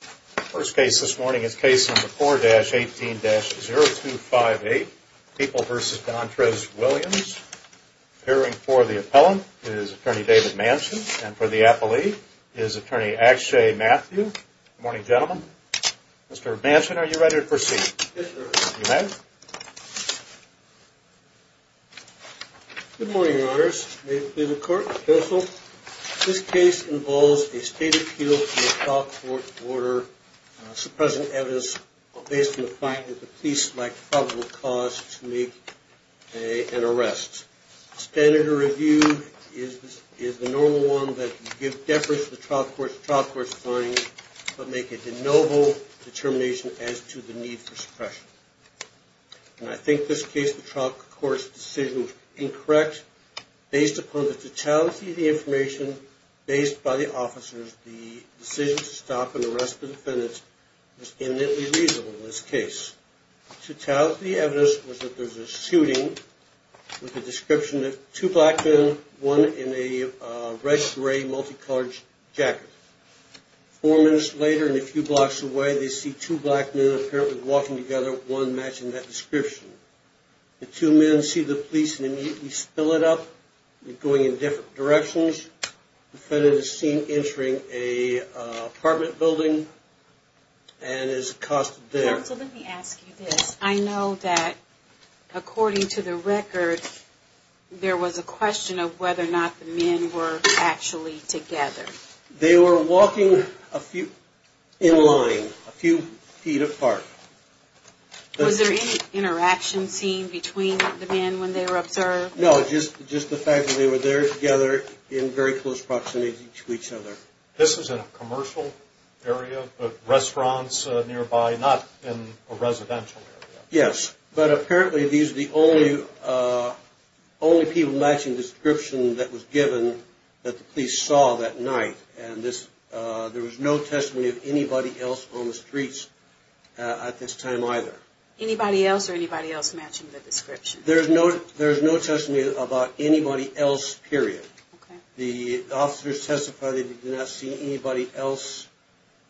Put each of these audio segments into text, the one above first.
The first case this morning is case number 4-18-0258, People v. D'Andres Williams. Appearing for the appellant is attorney David Manchin, and for the appellee is attorney Akshay Matthew. Good morning, gentlemen. Mr. Manchin, are you ready to proceed? Yes, sir. You may. Good morning, your honors. May it please the court. Counsel, this case involves a state appeal to a trial court order, suppressing evidence based on the fact that the police select probable cause to make an arrest. Standard of review is the normal one that you give deference to the trial court's trial court's findings, but make a de novo determination as to the need for suppression. And I think this case, the trial court's decision was incorrect. Based upon the totality of the information based by the officers, the decision to stop and arrest the defendant was eminently reasonable in this case. The totality of the evidence was that there was a shooting with the description of two black men, one in a red-gray multicolored jacket. Four minutes later and a few blocks away, they see two black men apparently walking together, one matching that description. The two men see the police and immediately spill it up, going in different directions. The defendant is seen entering an apartment building and is accosted there. Counsel, let me ask you this. I know that according to the record, there was a question of whether or not the men were actually together. They were walking in line, a few feet apart. Was there any interaction seen between the men when they were observed? No, just the fact that they were there together in very close proximity to each other. This is in a commercial area, but restaurants nearby, not in a residential area. Yes, but apparently these are the only people matching the description that was given that the police saw that night. There was no testimony of anybody else on the streets at this time either. Anybody else or anybody else matching the description? There is no testimony about anybody else, period. The officers testified that they did not see anybody else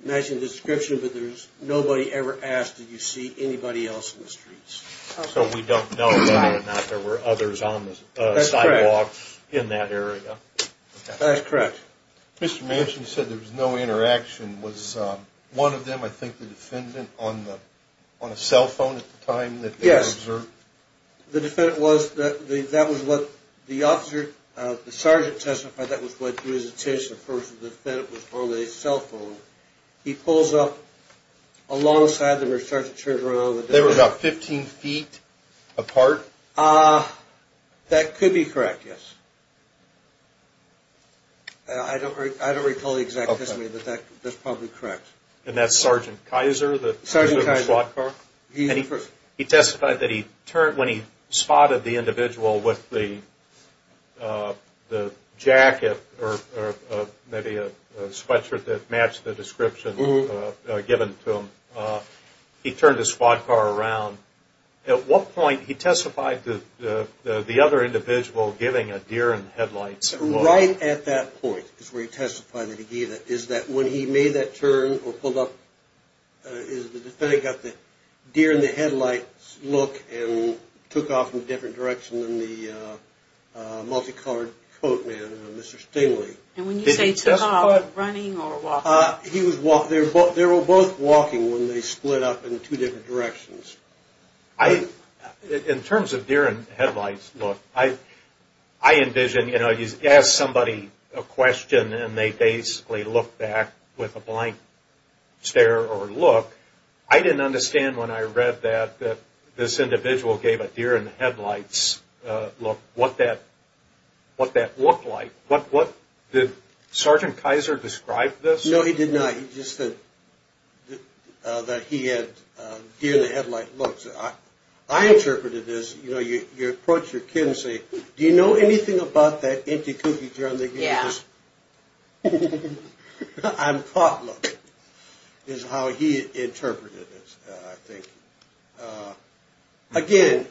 matching the description, but nobody ever asked that you see anybody else on the streets. So we don't know whether or not there were others on the sidewalk in that area. That's correct. Mr. Manchin said there was no interaction. Was one of them, I think, the defendant, on a cell phone at the time that they were observed? The defendant was, that was what the officer, the sergeant testified that was what he witnessed. Of course, the defendant was on a cell phone. He pulls up alongside where the sergeant turned around. They were about 15 feet apart? That could be correct, yes. I don't recall the exact testimony, but that's probably correct. And that's Sergeant Kaiser? Sergeant Kaiser. He testified that when he spotted the individual with the jacket or maybe a sweatshirt that matched the description given to him, he turned his squad car around. At what point, he testified to the other individual giving a deer in the headlights? Right at that point is where he testified that he gave it. Is that when he made that turn or pulled up, is the defendant got the deer in the headlights look and took off in a different direction than the multicolored coat man, Mr. Stingley? And when you say took off, running or walking? They were both walking when they split up in two different directions. In terms of deer in the headlights look, I envision you ask somebody a question and they basically look back with a blank stare or look. I didn't understand when I read that this individual gave a deer in the headlights look what that looked like. Did Sergeant Kaiser describe this? No, he did not. He just said that he had deer in the headlight looks. I interpreted this, you approach your kid and say, do you know anything about that empty cookie jar? Yeah. I'm caught looking, is how he interpreted it, I think. Again,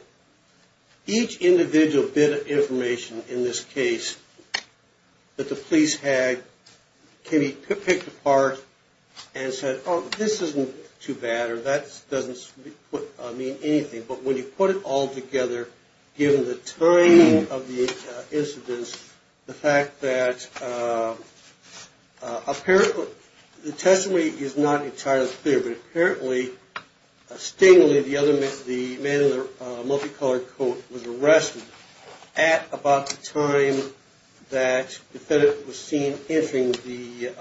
each individual bit of information in this case that the police had can be picked apart and said, oh, this isn't too bad or that doesn't mean anything. But when you put it all together, given the timing of the incidents, the fact that apparently the testimony is not entirely clear, but apparently Stingley, the man in the multicolored coat was arrested at about the time that the defendant was seen entering the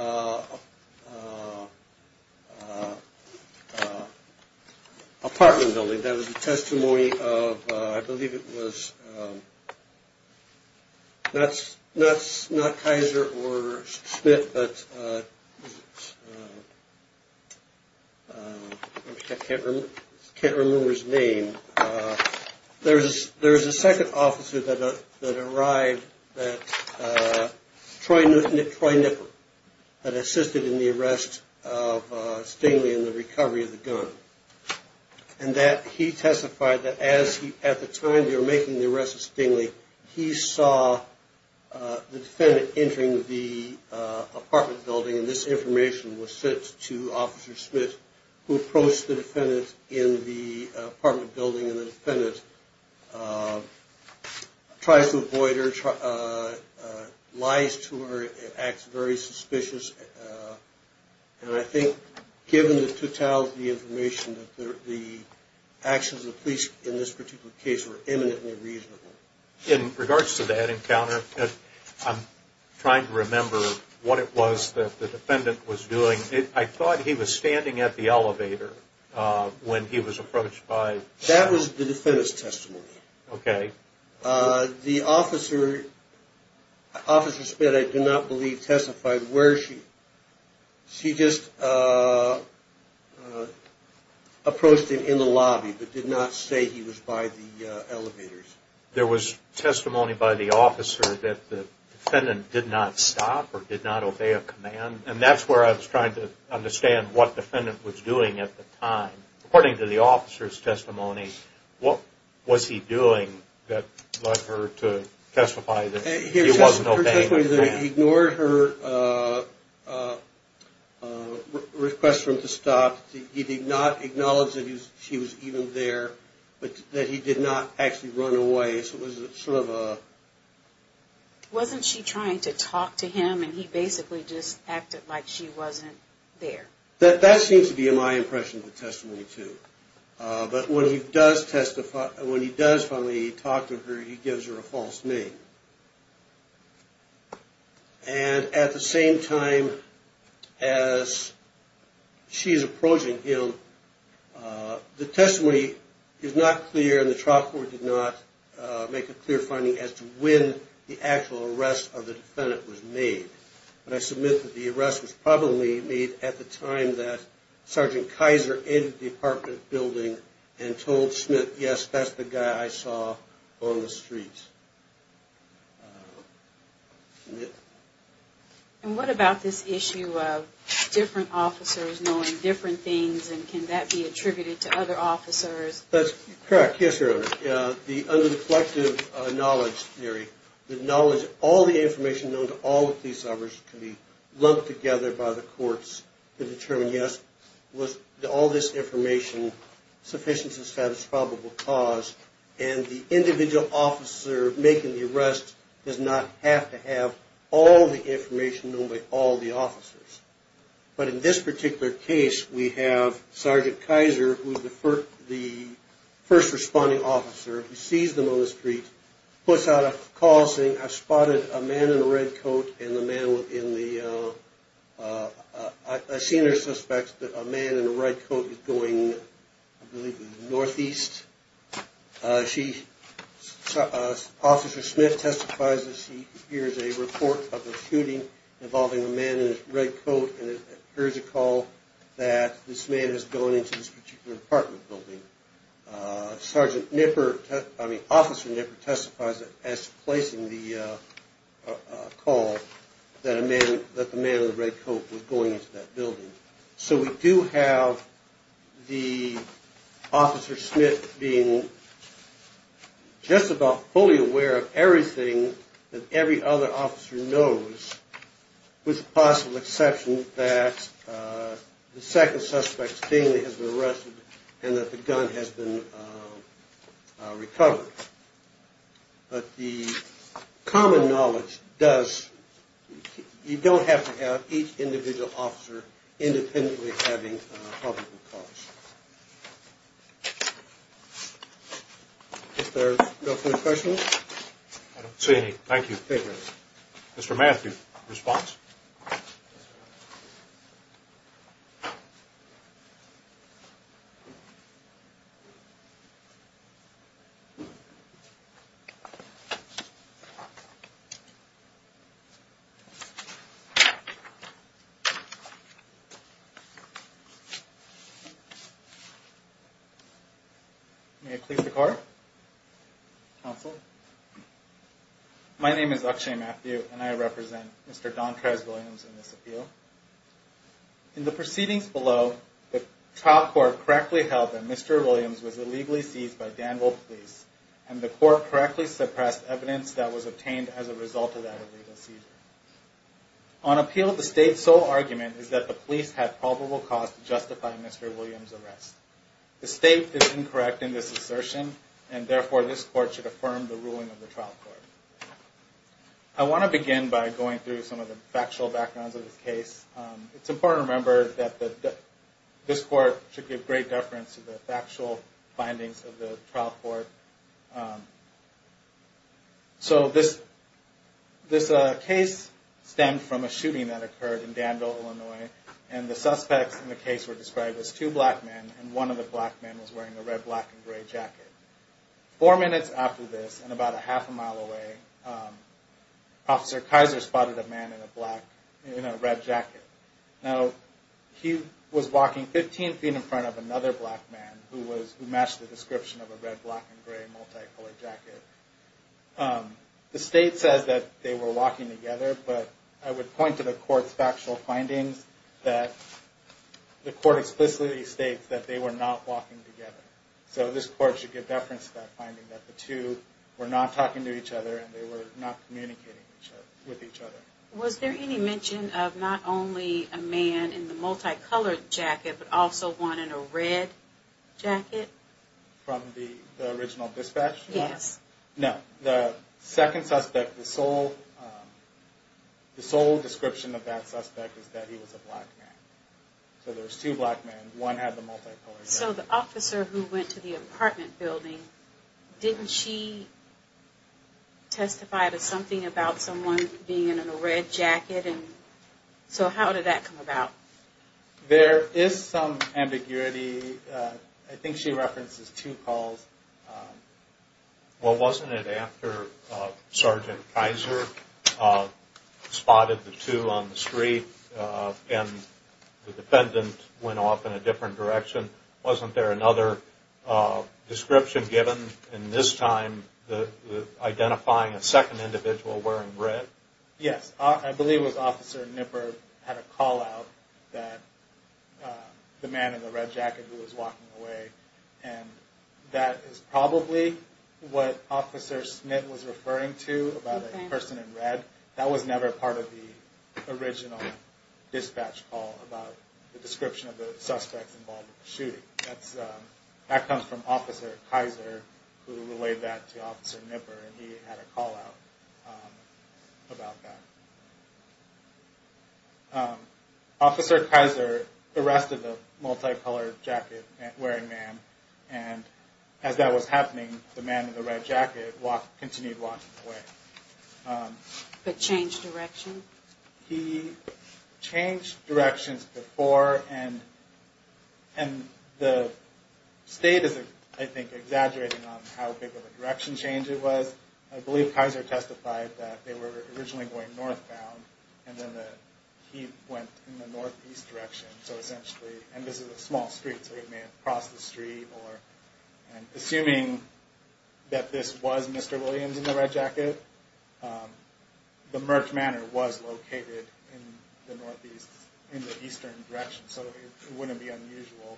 apartment building. And that was the testimony of, I believe it was, not Kaiser or Smith, but I can't remember his name. There was a second officer that arrived that assisted in the arrest of Stingley and the recovery of the gun. And that he testified that at the time they were making the arrest of Stingley, he saw the defendant entering the apartment building. And this information was sent to Officer Smith, who approached the defendant in the apartment building. And the defendant tries to avoid her, lies to her, acts very suspicious. And I think given the totality of the information, the actions of the police in this particular case were eminently reasonable. In regards to that encounter, I'm trying to remember what it was that the defendant was doing. I thought he was standing at the elevator when he was approached by... That was the defendant's testimony. Okay. The officer, Officer Smith, I do not believe testified where she... She just approached him in the lobby, but did not say he was by the elevators. There was testimony by the officer that the defendant did not stop or did not obey a command. And that's where I was trying to understand what the defendant was doing at the time. According to the officer's testimony, what was he doing that led her to testify that he wasn't obeying a command? He ignored her request for him to stop. He did not acknowledge that she was even there, but that he did not actually run away. So it was sort of a... Wasn't she trying to talk to him, and he basically just acted like she wasn't there? That seems to be my impression of the testimony, too. But when he does finally talk to her, he gives her a false name. And at the same time as she's approaching him, the testimony is not clear, and the trial court did not make a clear finding as to when the actual arrest of the defendant was made. But I submit that the arrest was probably made at the time that Sergeant Kaiser entered the apartment building and told Schmidt, yes, that's the guy I saw on the streets. And what about this issue of different officers knowing different things, and can that be attributed to other officers? That's correct. Yes, Your Honor, under the collective knowledge theory, the knowledge that all the information known to all the police officers can be lumped together by the courts to determine, yes, was all this information sufficient to establish probable cause, and the individual officer making the arrest does not have to have all the information known by all the officers. But in this particular case, we have Sergeant Kaiser, who's the first responding officer, who sees them on the street, puts out a call saying, I've spotted a man in a red coat, and the man in the, I've seen her suspect that a man in a red coat is going, I believe, northeast. She, Officer Schmidt testifies that she hears a report of a shooting involving a man in a red coat, and hears a call that this man is going into this particular apartment building. Sergeant Nipper, I mean, Officer Nipper testifies that as to placing the call, that the man in the red coat was going into that building. So we do have the Officer Schmidt being just about fully aware of everything that every other officer knows, with the possible exception that the second suspect's family has been arrested and that the gun has been recovered. But the common knowledge does, you don't have to have each individual officer independently having a probable cause. Is there no further questions? I don't see any. Thank you. Mr. Matthews responds. May I please have the card? Counsel. My name is Akshay Matthew, and I represent Mr. Dontrez Williams in this appeal. In the proceedings below, the trial court correctly held that Mr. Williams was illegally seized by Danville Police, and the court correctly suppressed evidence that was obtained as a result of that illegal seizure. On appeal, the state's sole argument is that the police had probable cause to justify Mr. Williams' arrest. The state is incorrect in this assertion, and therefore this court should affirm the ruling of the trial court. I want to begin by going through some of the factual backgrounds of this case. It's important to remember that this court should give great deference to the factual findings of the trial court. So this case stemmed from a shooting that occurred in Danville, Illinois, and the suspects in the case were described as two black men, and one of the black men was wearing a red, black, and gray jacket. Four minutes after this, and about a half a mile away, Officer Kaiser spotted a man in a red jacket. Now, he was walking 15 feet in front of another black man who matched the description of a red, black, and gray multi-colored jacket. The state says that they were walking together, but I would point to the court's factual findings that the court explicitly states that they were not walking together. So this court should give deference to that finding, that the two were not talking to each other, and they were not communicating with each other. Was there any mention of not only a man in the multi-colored jacket, but also one in a red jacket? No. The second suspect, the sole description of that suspect is that he was a black man. So there's two black men, one had the multi-colored jacket. So the officer who went to the apartment building, didn't she testify to something about someone being in a red jacket? So how did that come about? There is some ambiguity. I think she references two calls. Well, wasn't it after Sergeant Kaiser spotted the two on the street and the defendant went off in a different direction, wasn't there another description given in this time identifying a second individual wearing red? Yes. I believe it was Officer Knipper who had a call out that the man in the red jacket who was walking away. And that is probably what Officer Smit was referring to, about a person in red. That was never part of the original dispatch call about the description of the suspect involved in the shooting. That comes from Officer Kaiser, who relayed that to Officer Knipper, and he had a call out. Officer Kaiser arrested the multi-colored jacket wearing man, and as that was happening, the man in the red jacket continued walking away. But changed direction? He changed directions before, and the state is, I think, exaggerating on how big of a direction change it was. I believe Kaiser testified that they were originally going northbound, and then he went in the northeast direction. So essentially, and this is a small street, so he may have crossed the street. Assuming that this was Mr. Williams in the red jacket, the Merck Manor was located in the northeast, in the eastern direction. So it wouldn't be unusual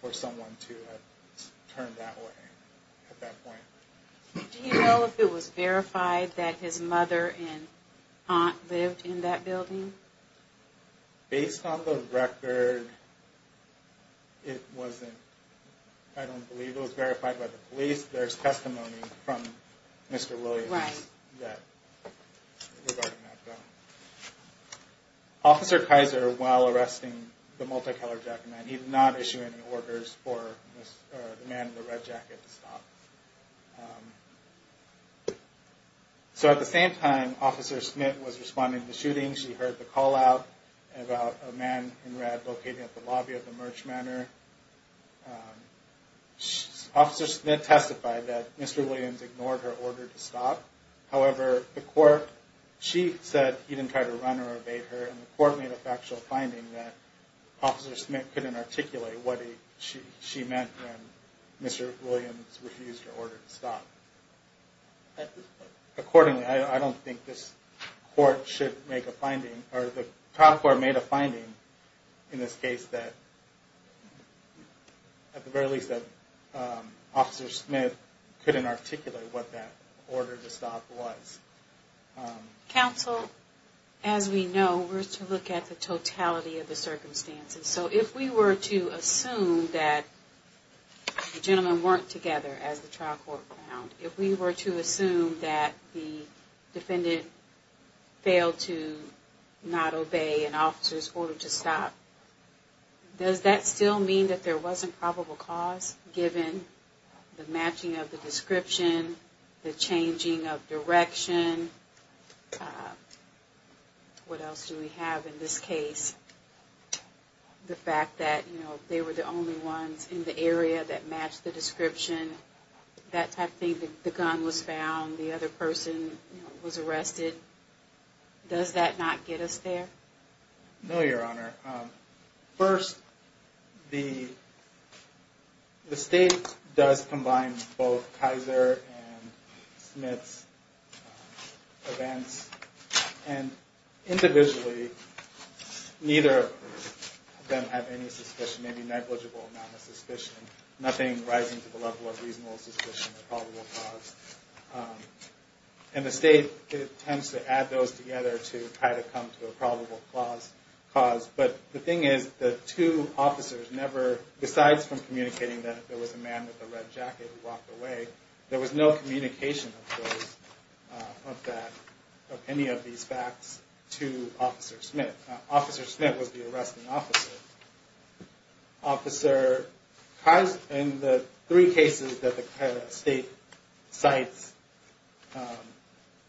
for someone to have turned that way at that point. Do you know if it was verified that his mother and aunt lived in that building? Based on the record, it wasn't. I don't believe it was verified by the police. There's testimony from Mr. Williams that it was already mapped out. Officer Kaiser, while arresting the multi-colored jacket man, he did not issue any orders for the man in the red jacket to stop. So at the same time Officer Smith was responding to the shooting, she heard the call out about a man in red located at the lobby of the Merck Manor. Officer Smith testified that Mr. Williams ignored her order to stop. However, the court, she said he didn't try to run or evade her, and the court made a factual finding that Officer Smith couldn't articulate what she meant when Mr. Williams refused her order to stop. Accordingly, I don't think this court should make a finding, or the trial court made a finding in this case that at the very least that Officer Smith couldn't articulate what that order to stop was. Counsel, as we know, we're to look at the totality of the circumstances. So if we were to assume that the gentlemen weren't together as the trial court found, if we were to assume that the defendant failed to not obey an officer's order to stop, does that still mean that there wasn't probable cause given the matching of the description, the changing of direction? What else do we have in this case? The fact that, you know, they were the only ones in the area that matched the description. That type of thing, the gun was found, the other person was arrested. Does that not get us there? No, Your Honor. First, the state does combine both Kaiser and Smith's events, and individually, neither of them have any suspicion, maybe negligible amount of suspicion, nothing rising to the level of reasonable suspicion of probable cause. And the state tends to add those together to try to come to a probable cause. But the thing is, the two officers never, besides from communicating that there was a man with a red jacket who walked away, there was no communication of any of these facts to Officer Smith. Officer Smith was the arresting officer. In the three cases that the state cites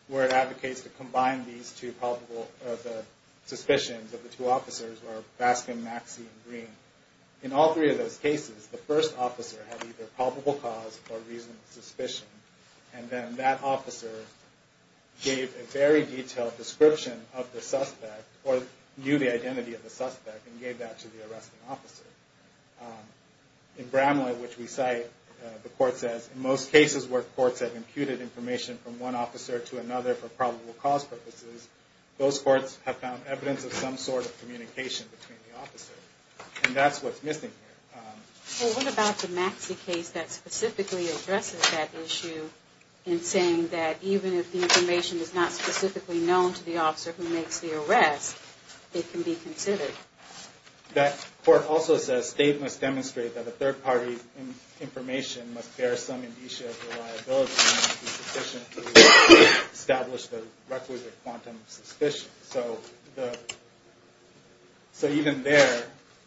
where it advocates to combine these two probable, the suspicions of the two officers were Baskin, Maxey, and Green. In all three of those cases, the first officer had either probable cause or reasonable suspicion. And then that officer gave a very detailed description of the suspect, or knew the identity of the suspect, and gave that to the other officer. In Bramlett, which we cite, the court says, in most cases where courts have imputed information from one officer to another for probable cause purposes, those courts have found evidence of some sort of communication between the officers. And that's what's missing here. Well, what about the Maxey case that specifically addresses that issue in saying that even if the information is not specifically known to the officer who makes the arrest, it can be considered? The court also says that the state must demonstrate that a third party's information must bear some indicia of reliability and be sufficient to establish the requisite quantum of suspicion. So even there,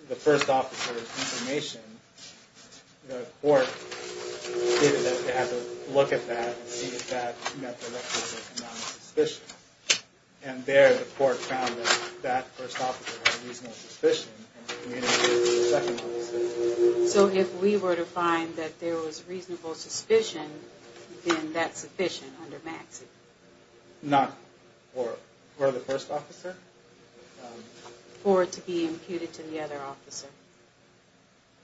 the first officer's information, the court stated that they had to look at that and see if that met the requisite quantum of suspicion. And there, the court found that that first officer had reasonable suspicion and communicated it to the second officer. So if we were to find that there was reasonable suspicion, then that's sufficient under Maxey? Not for the first officer? Or to be imputed to the other officer?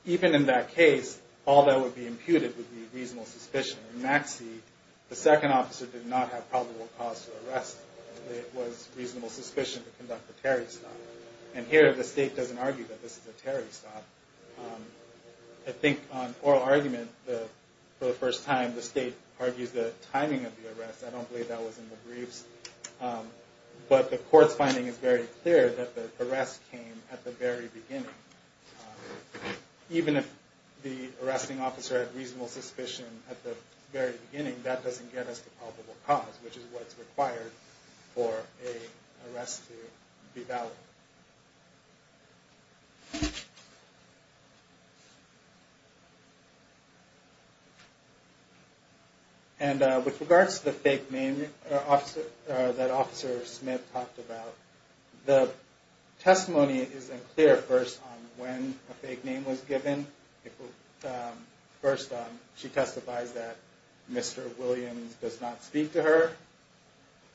Even in that case, all that would be imputed would be reasonable suspicion. In Maxey, the second officer did not have probable cause to arrest. It was reasonable suspicion to conduct the Terry stop. And here, the state doesn't argue that this is a Terry stop. I think on oral argument, for the first time, the state argues the timing of the arrest. I don't believe that was in the briefs. But the court's finding is very clear that the arrest came at the very beginning. Even if the arresting officer had reasonable suspicion at the very beginning, that doesn't get us the probable cause, which is what's required for an arrest to be valid. And with regards to the fake name that Officer Smith talked about, the testimony is unclear, first, on when a fake name was given. First, she testifies that Mr. Williams does not speak to her.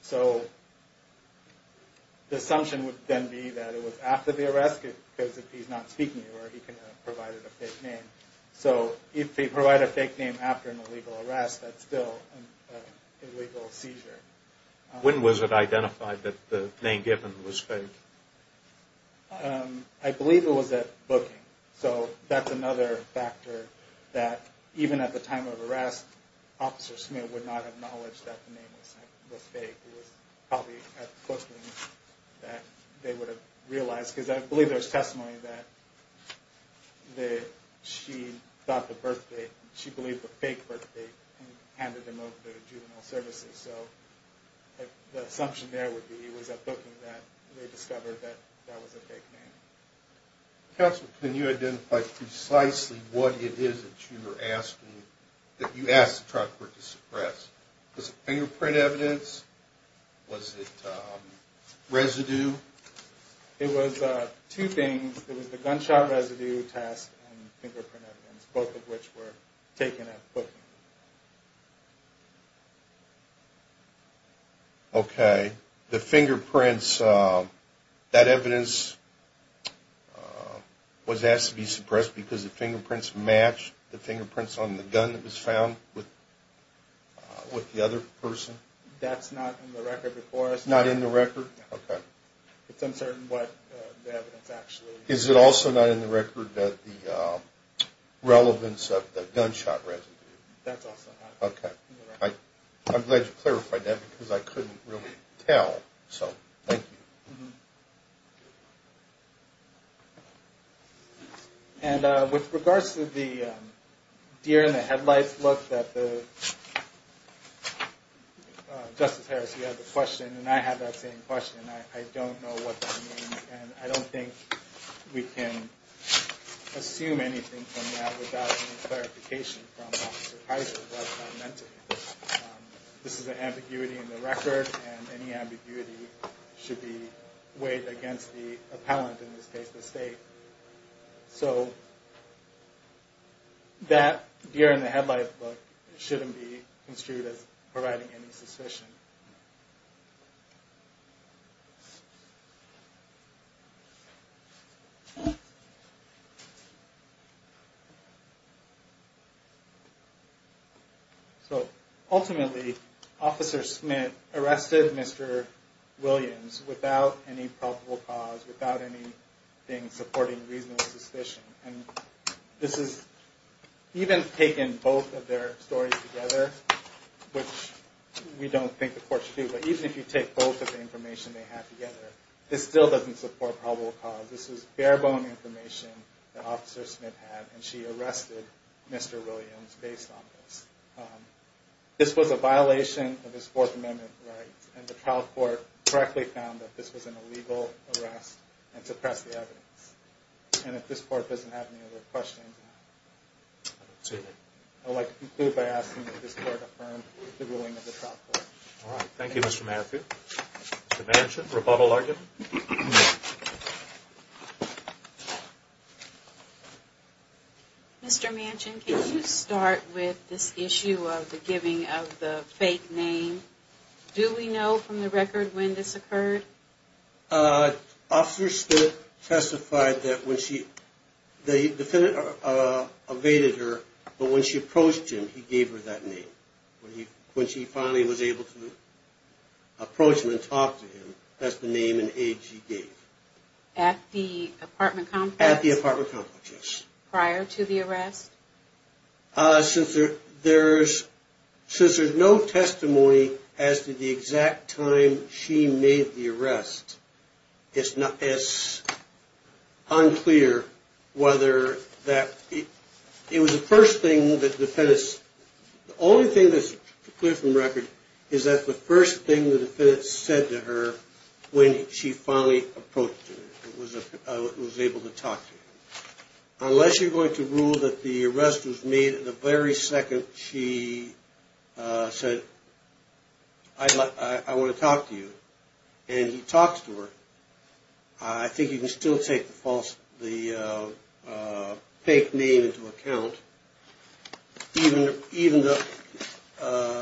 So the assumption would then be that it was after the arrest, because if he's not speaking to her, he could have provided a fake name. So if they provide a fake name after an illegal arrest, that's still an illegal seizure. When was it identified that the name given was fake? I believe it was at booking. So that's another factor that even at the time of arrest, Officer Smith would not acknowledge that the name was fake. It was probably at booking that they would have realized. Because I believe there's testimony that she thought the birth date, she believed the fake birth date and handed him over to juvenile services. So the assumption there would be it was at booking that they discovered that that was a fake name. Counsel, can you identify precisely what it is that you were asking, that you asked the trucker to suppress? Was it fingerprint evidence? Was it residue? It was two things. It was the gunshot residue test and fingerprint evidence, both of which were taken at booking. Okay. The fingerprints, that evidence was asked to be suppressed because the fingerprints matched the fingerprints on the gun that was found with the other person? That's not in the record before us. It's not in the record? It's uncertain what the evidence actually is. Is it also not in the record that the relevance of the gunshot residue? Okay. I'm glad you clarified that because I couldn't really tell. So, thank you. And with regards to the deer in the headlights, look, Justice Harris, you had the question and I had that same question. I don't know what that means and I don't think we can assume anything from that without any clarification from Officer Heiser. This is an ambiguity in the record and any ambiguity should be weighed against the appellant in this case, the State. So, that deer in the headlights shouldn't be construed as providing any suspicion. So, ultimately, Officer Smith arrested Mr. Williams without any probable cause, without anything supporting reasonable suspicion. And this is, even taking both of their stories together, which we don't think the court should do, but even if you take both of the information they have together, this still doesn't support probable cause. This is bare bone information that Officer Smith had and she arrested Mr. Williams based on this. This was a violation of his Fourth Amendment rights and the trial court correctly found that this was an illegal arrest and suppressed the evidence. And if this court doesn't have any other questions, I would like to conclude by asking that this court affirm the ruling of the trial court. All right. Thank you, Mr. Matthew. Mr. Manchin, rebuttal argument? Mr. Manchin, can you start with this issue of the giving of the fake name? Do we know from the record when this occurred? Officer Smith testified that when she, the defendant evaded her, but when she approached him, he gave her that name. When she finally was able to approach him and talk to him, that's the name and age he gave. At the apartment complex? At the apartment complex, yes. Prior to the arrest? Since there's no testimony as to the exact time she made the arrest, it's unclear whether that, it was the first thing that the defendant, the only thing that the defendant, the only thing that's clear from record is that the first thing the defendant said to her when she finally approached him was that he was able to talk to her. Unless you're going to rule that the arrest was made the very second she said, I want to talk to you, and he talks to her, I think you can still take the fake name into account.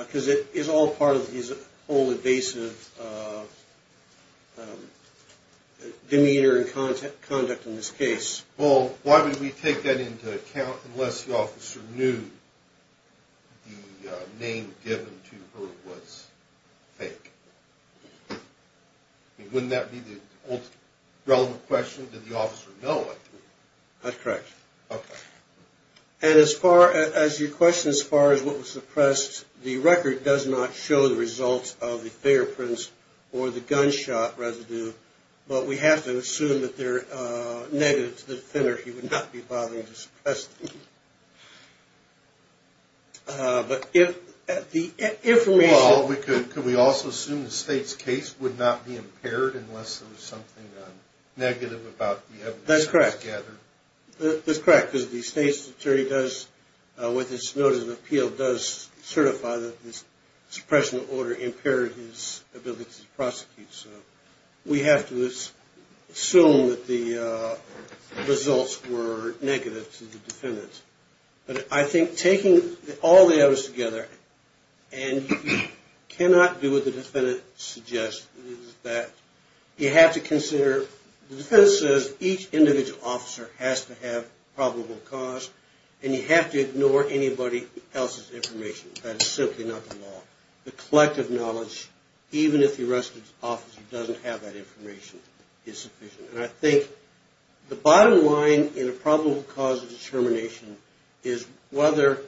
Because it's all part of his whole evasive demeanor and conduct in this case. Well, why would we take that into account unless the officer knew the name given to her was fake? Wouldn't that be the ultimate relevant question? Did the officer know it? That's correct. And as far as your question as far as what was suppressed, the record does not show the results of the fingerprints or the gunshot residue. But we have to assume that they're negative to the defender. He would not be bothering to suppress them. But if the information... Well, could we also assume the state's case would not be impaired unless there was something negative about the evidence that was gathered? That's correct, because the state's attorney does, with his notice of appeal, does certify that the suppression of order impaired his ability to prosecute. So we have to assume that the results were negative to the defendant. But I think taking all the evidence together, and you cannot do what the defendant suggests, is that you have to consider... And you have to ignore anybody else's information. That is simply not the law. The collective knowledge, even if the arrested officer doesn't have that information, is sufficient. And I think the bottom line in a probable cause of determination is whether,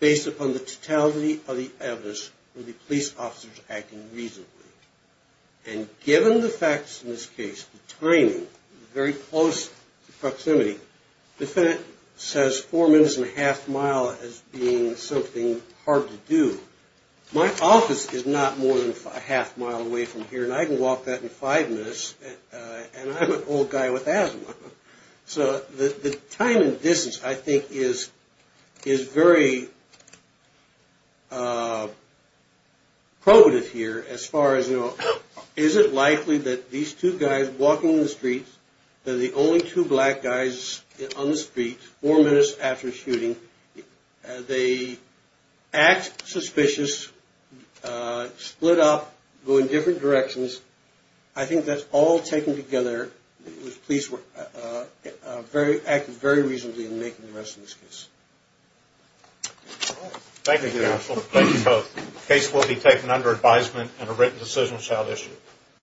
based upon the totality of the evidence, would the police officers act in a reasonable way. And given the facts in this case, the timing, the very close proximity to the crime scene, and the fact that the police officers acted in a reasonable way, I think the bottom line in a probable cause of determination is whether, based upon the totality of the evidence, would the police officers act in a reasonable way. So, the defense has four minutes and a half-mile as being something hard to do. My office is not more than half-mile from here, and I can walk that in five minutes, and I'm an old guy with asthma. So, the time and distance, I think, is very probative here as far as, you know, is it likely that these two guys walking on the streets, that the only two black guys skimming the streets, have been implicated? Four minutes after shooting, they act suspicious, split up, go in different directions. I think that's all taken together. The police acted very reasonably in making the rest of this case. Thank you, counsel. Thank you both. The case will be taken under advisement and a written decision shall issue.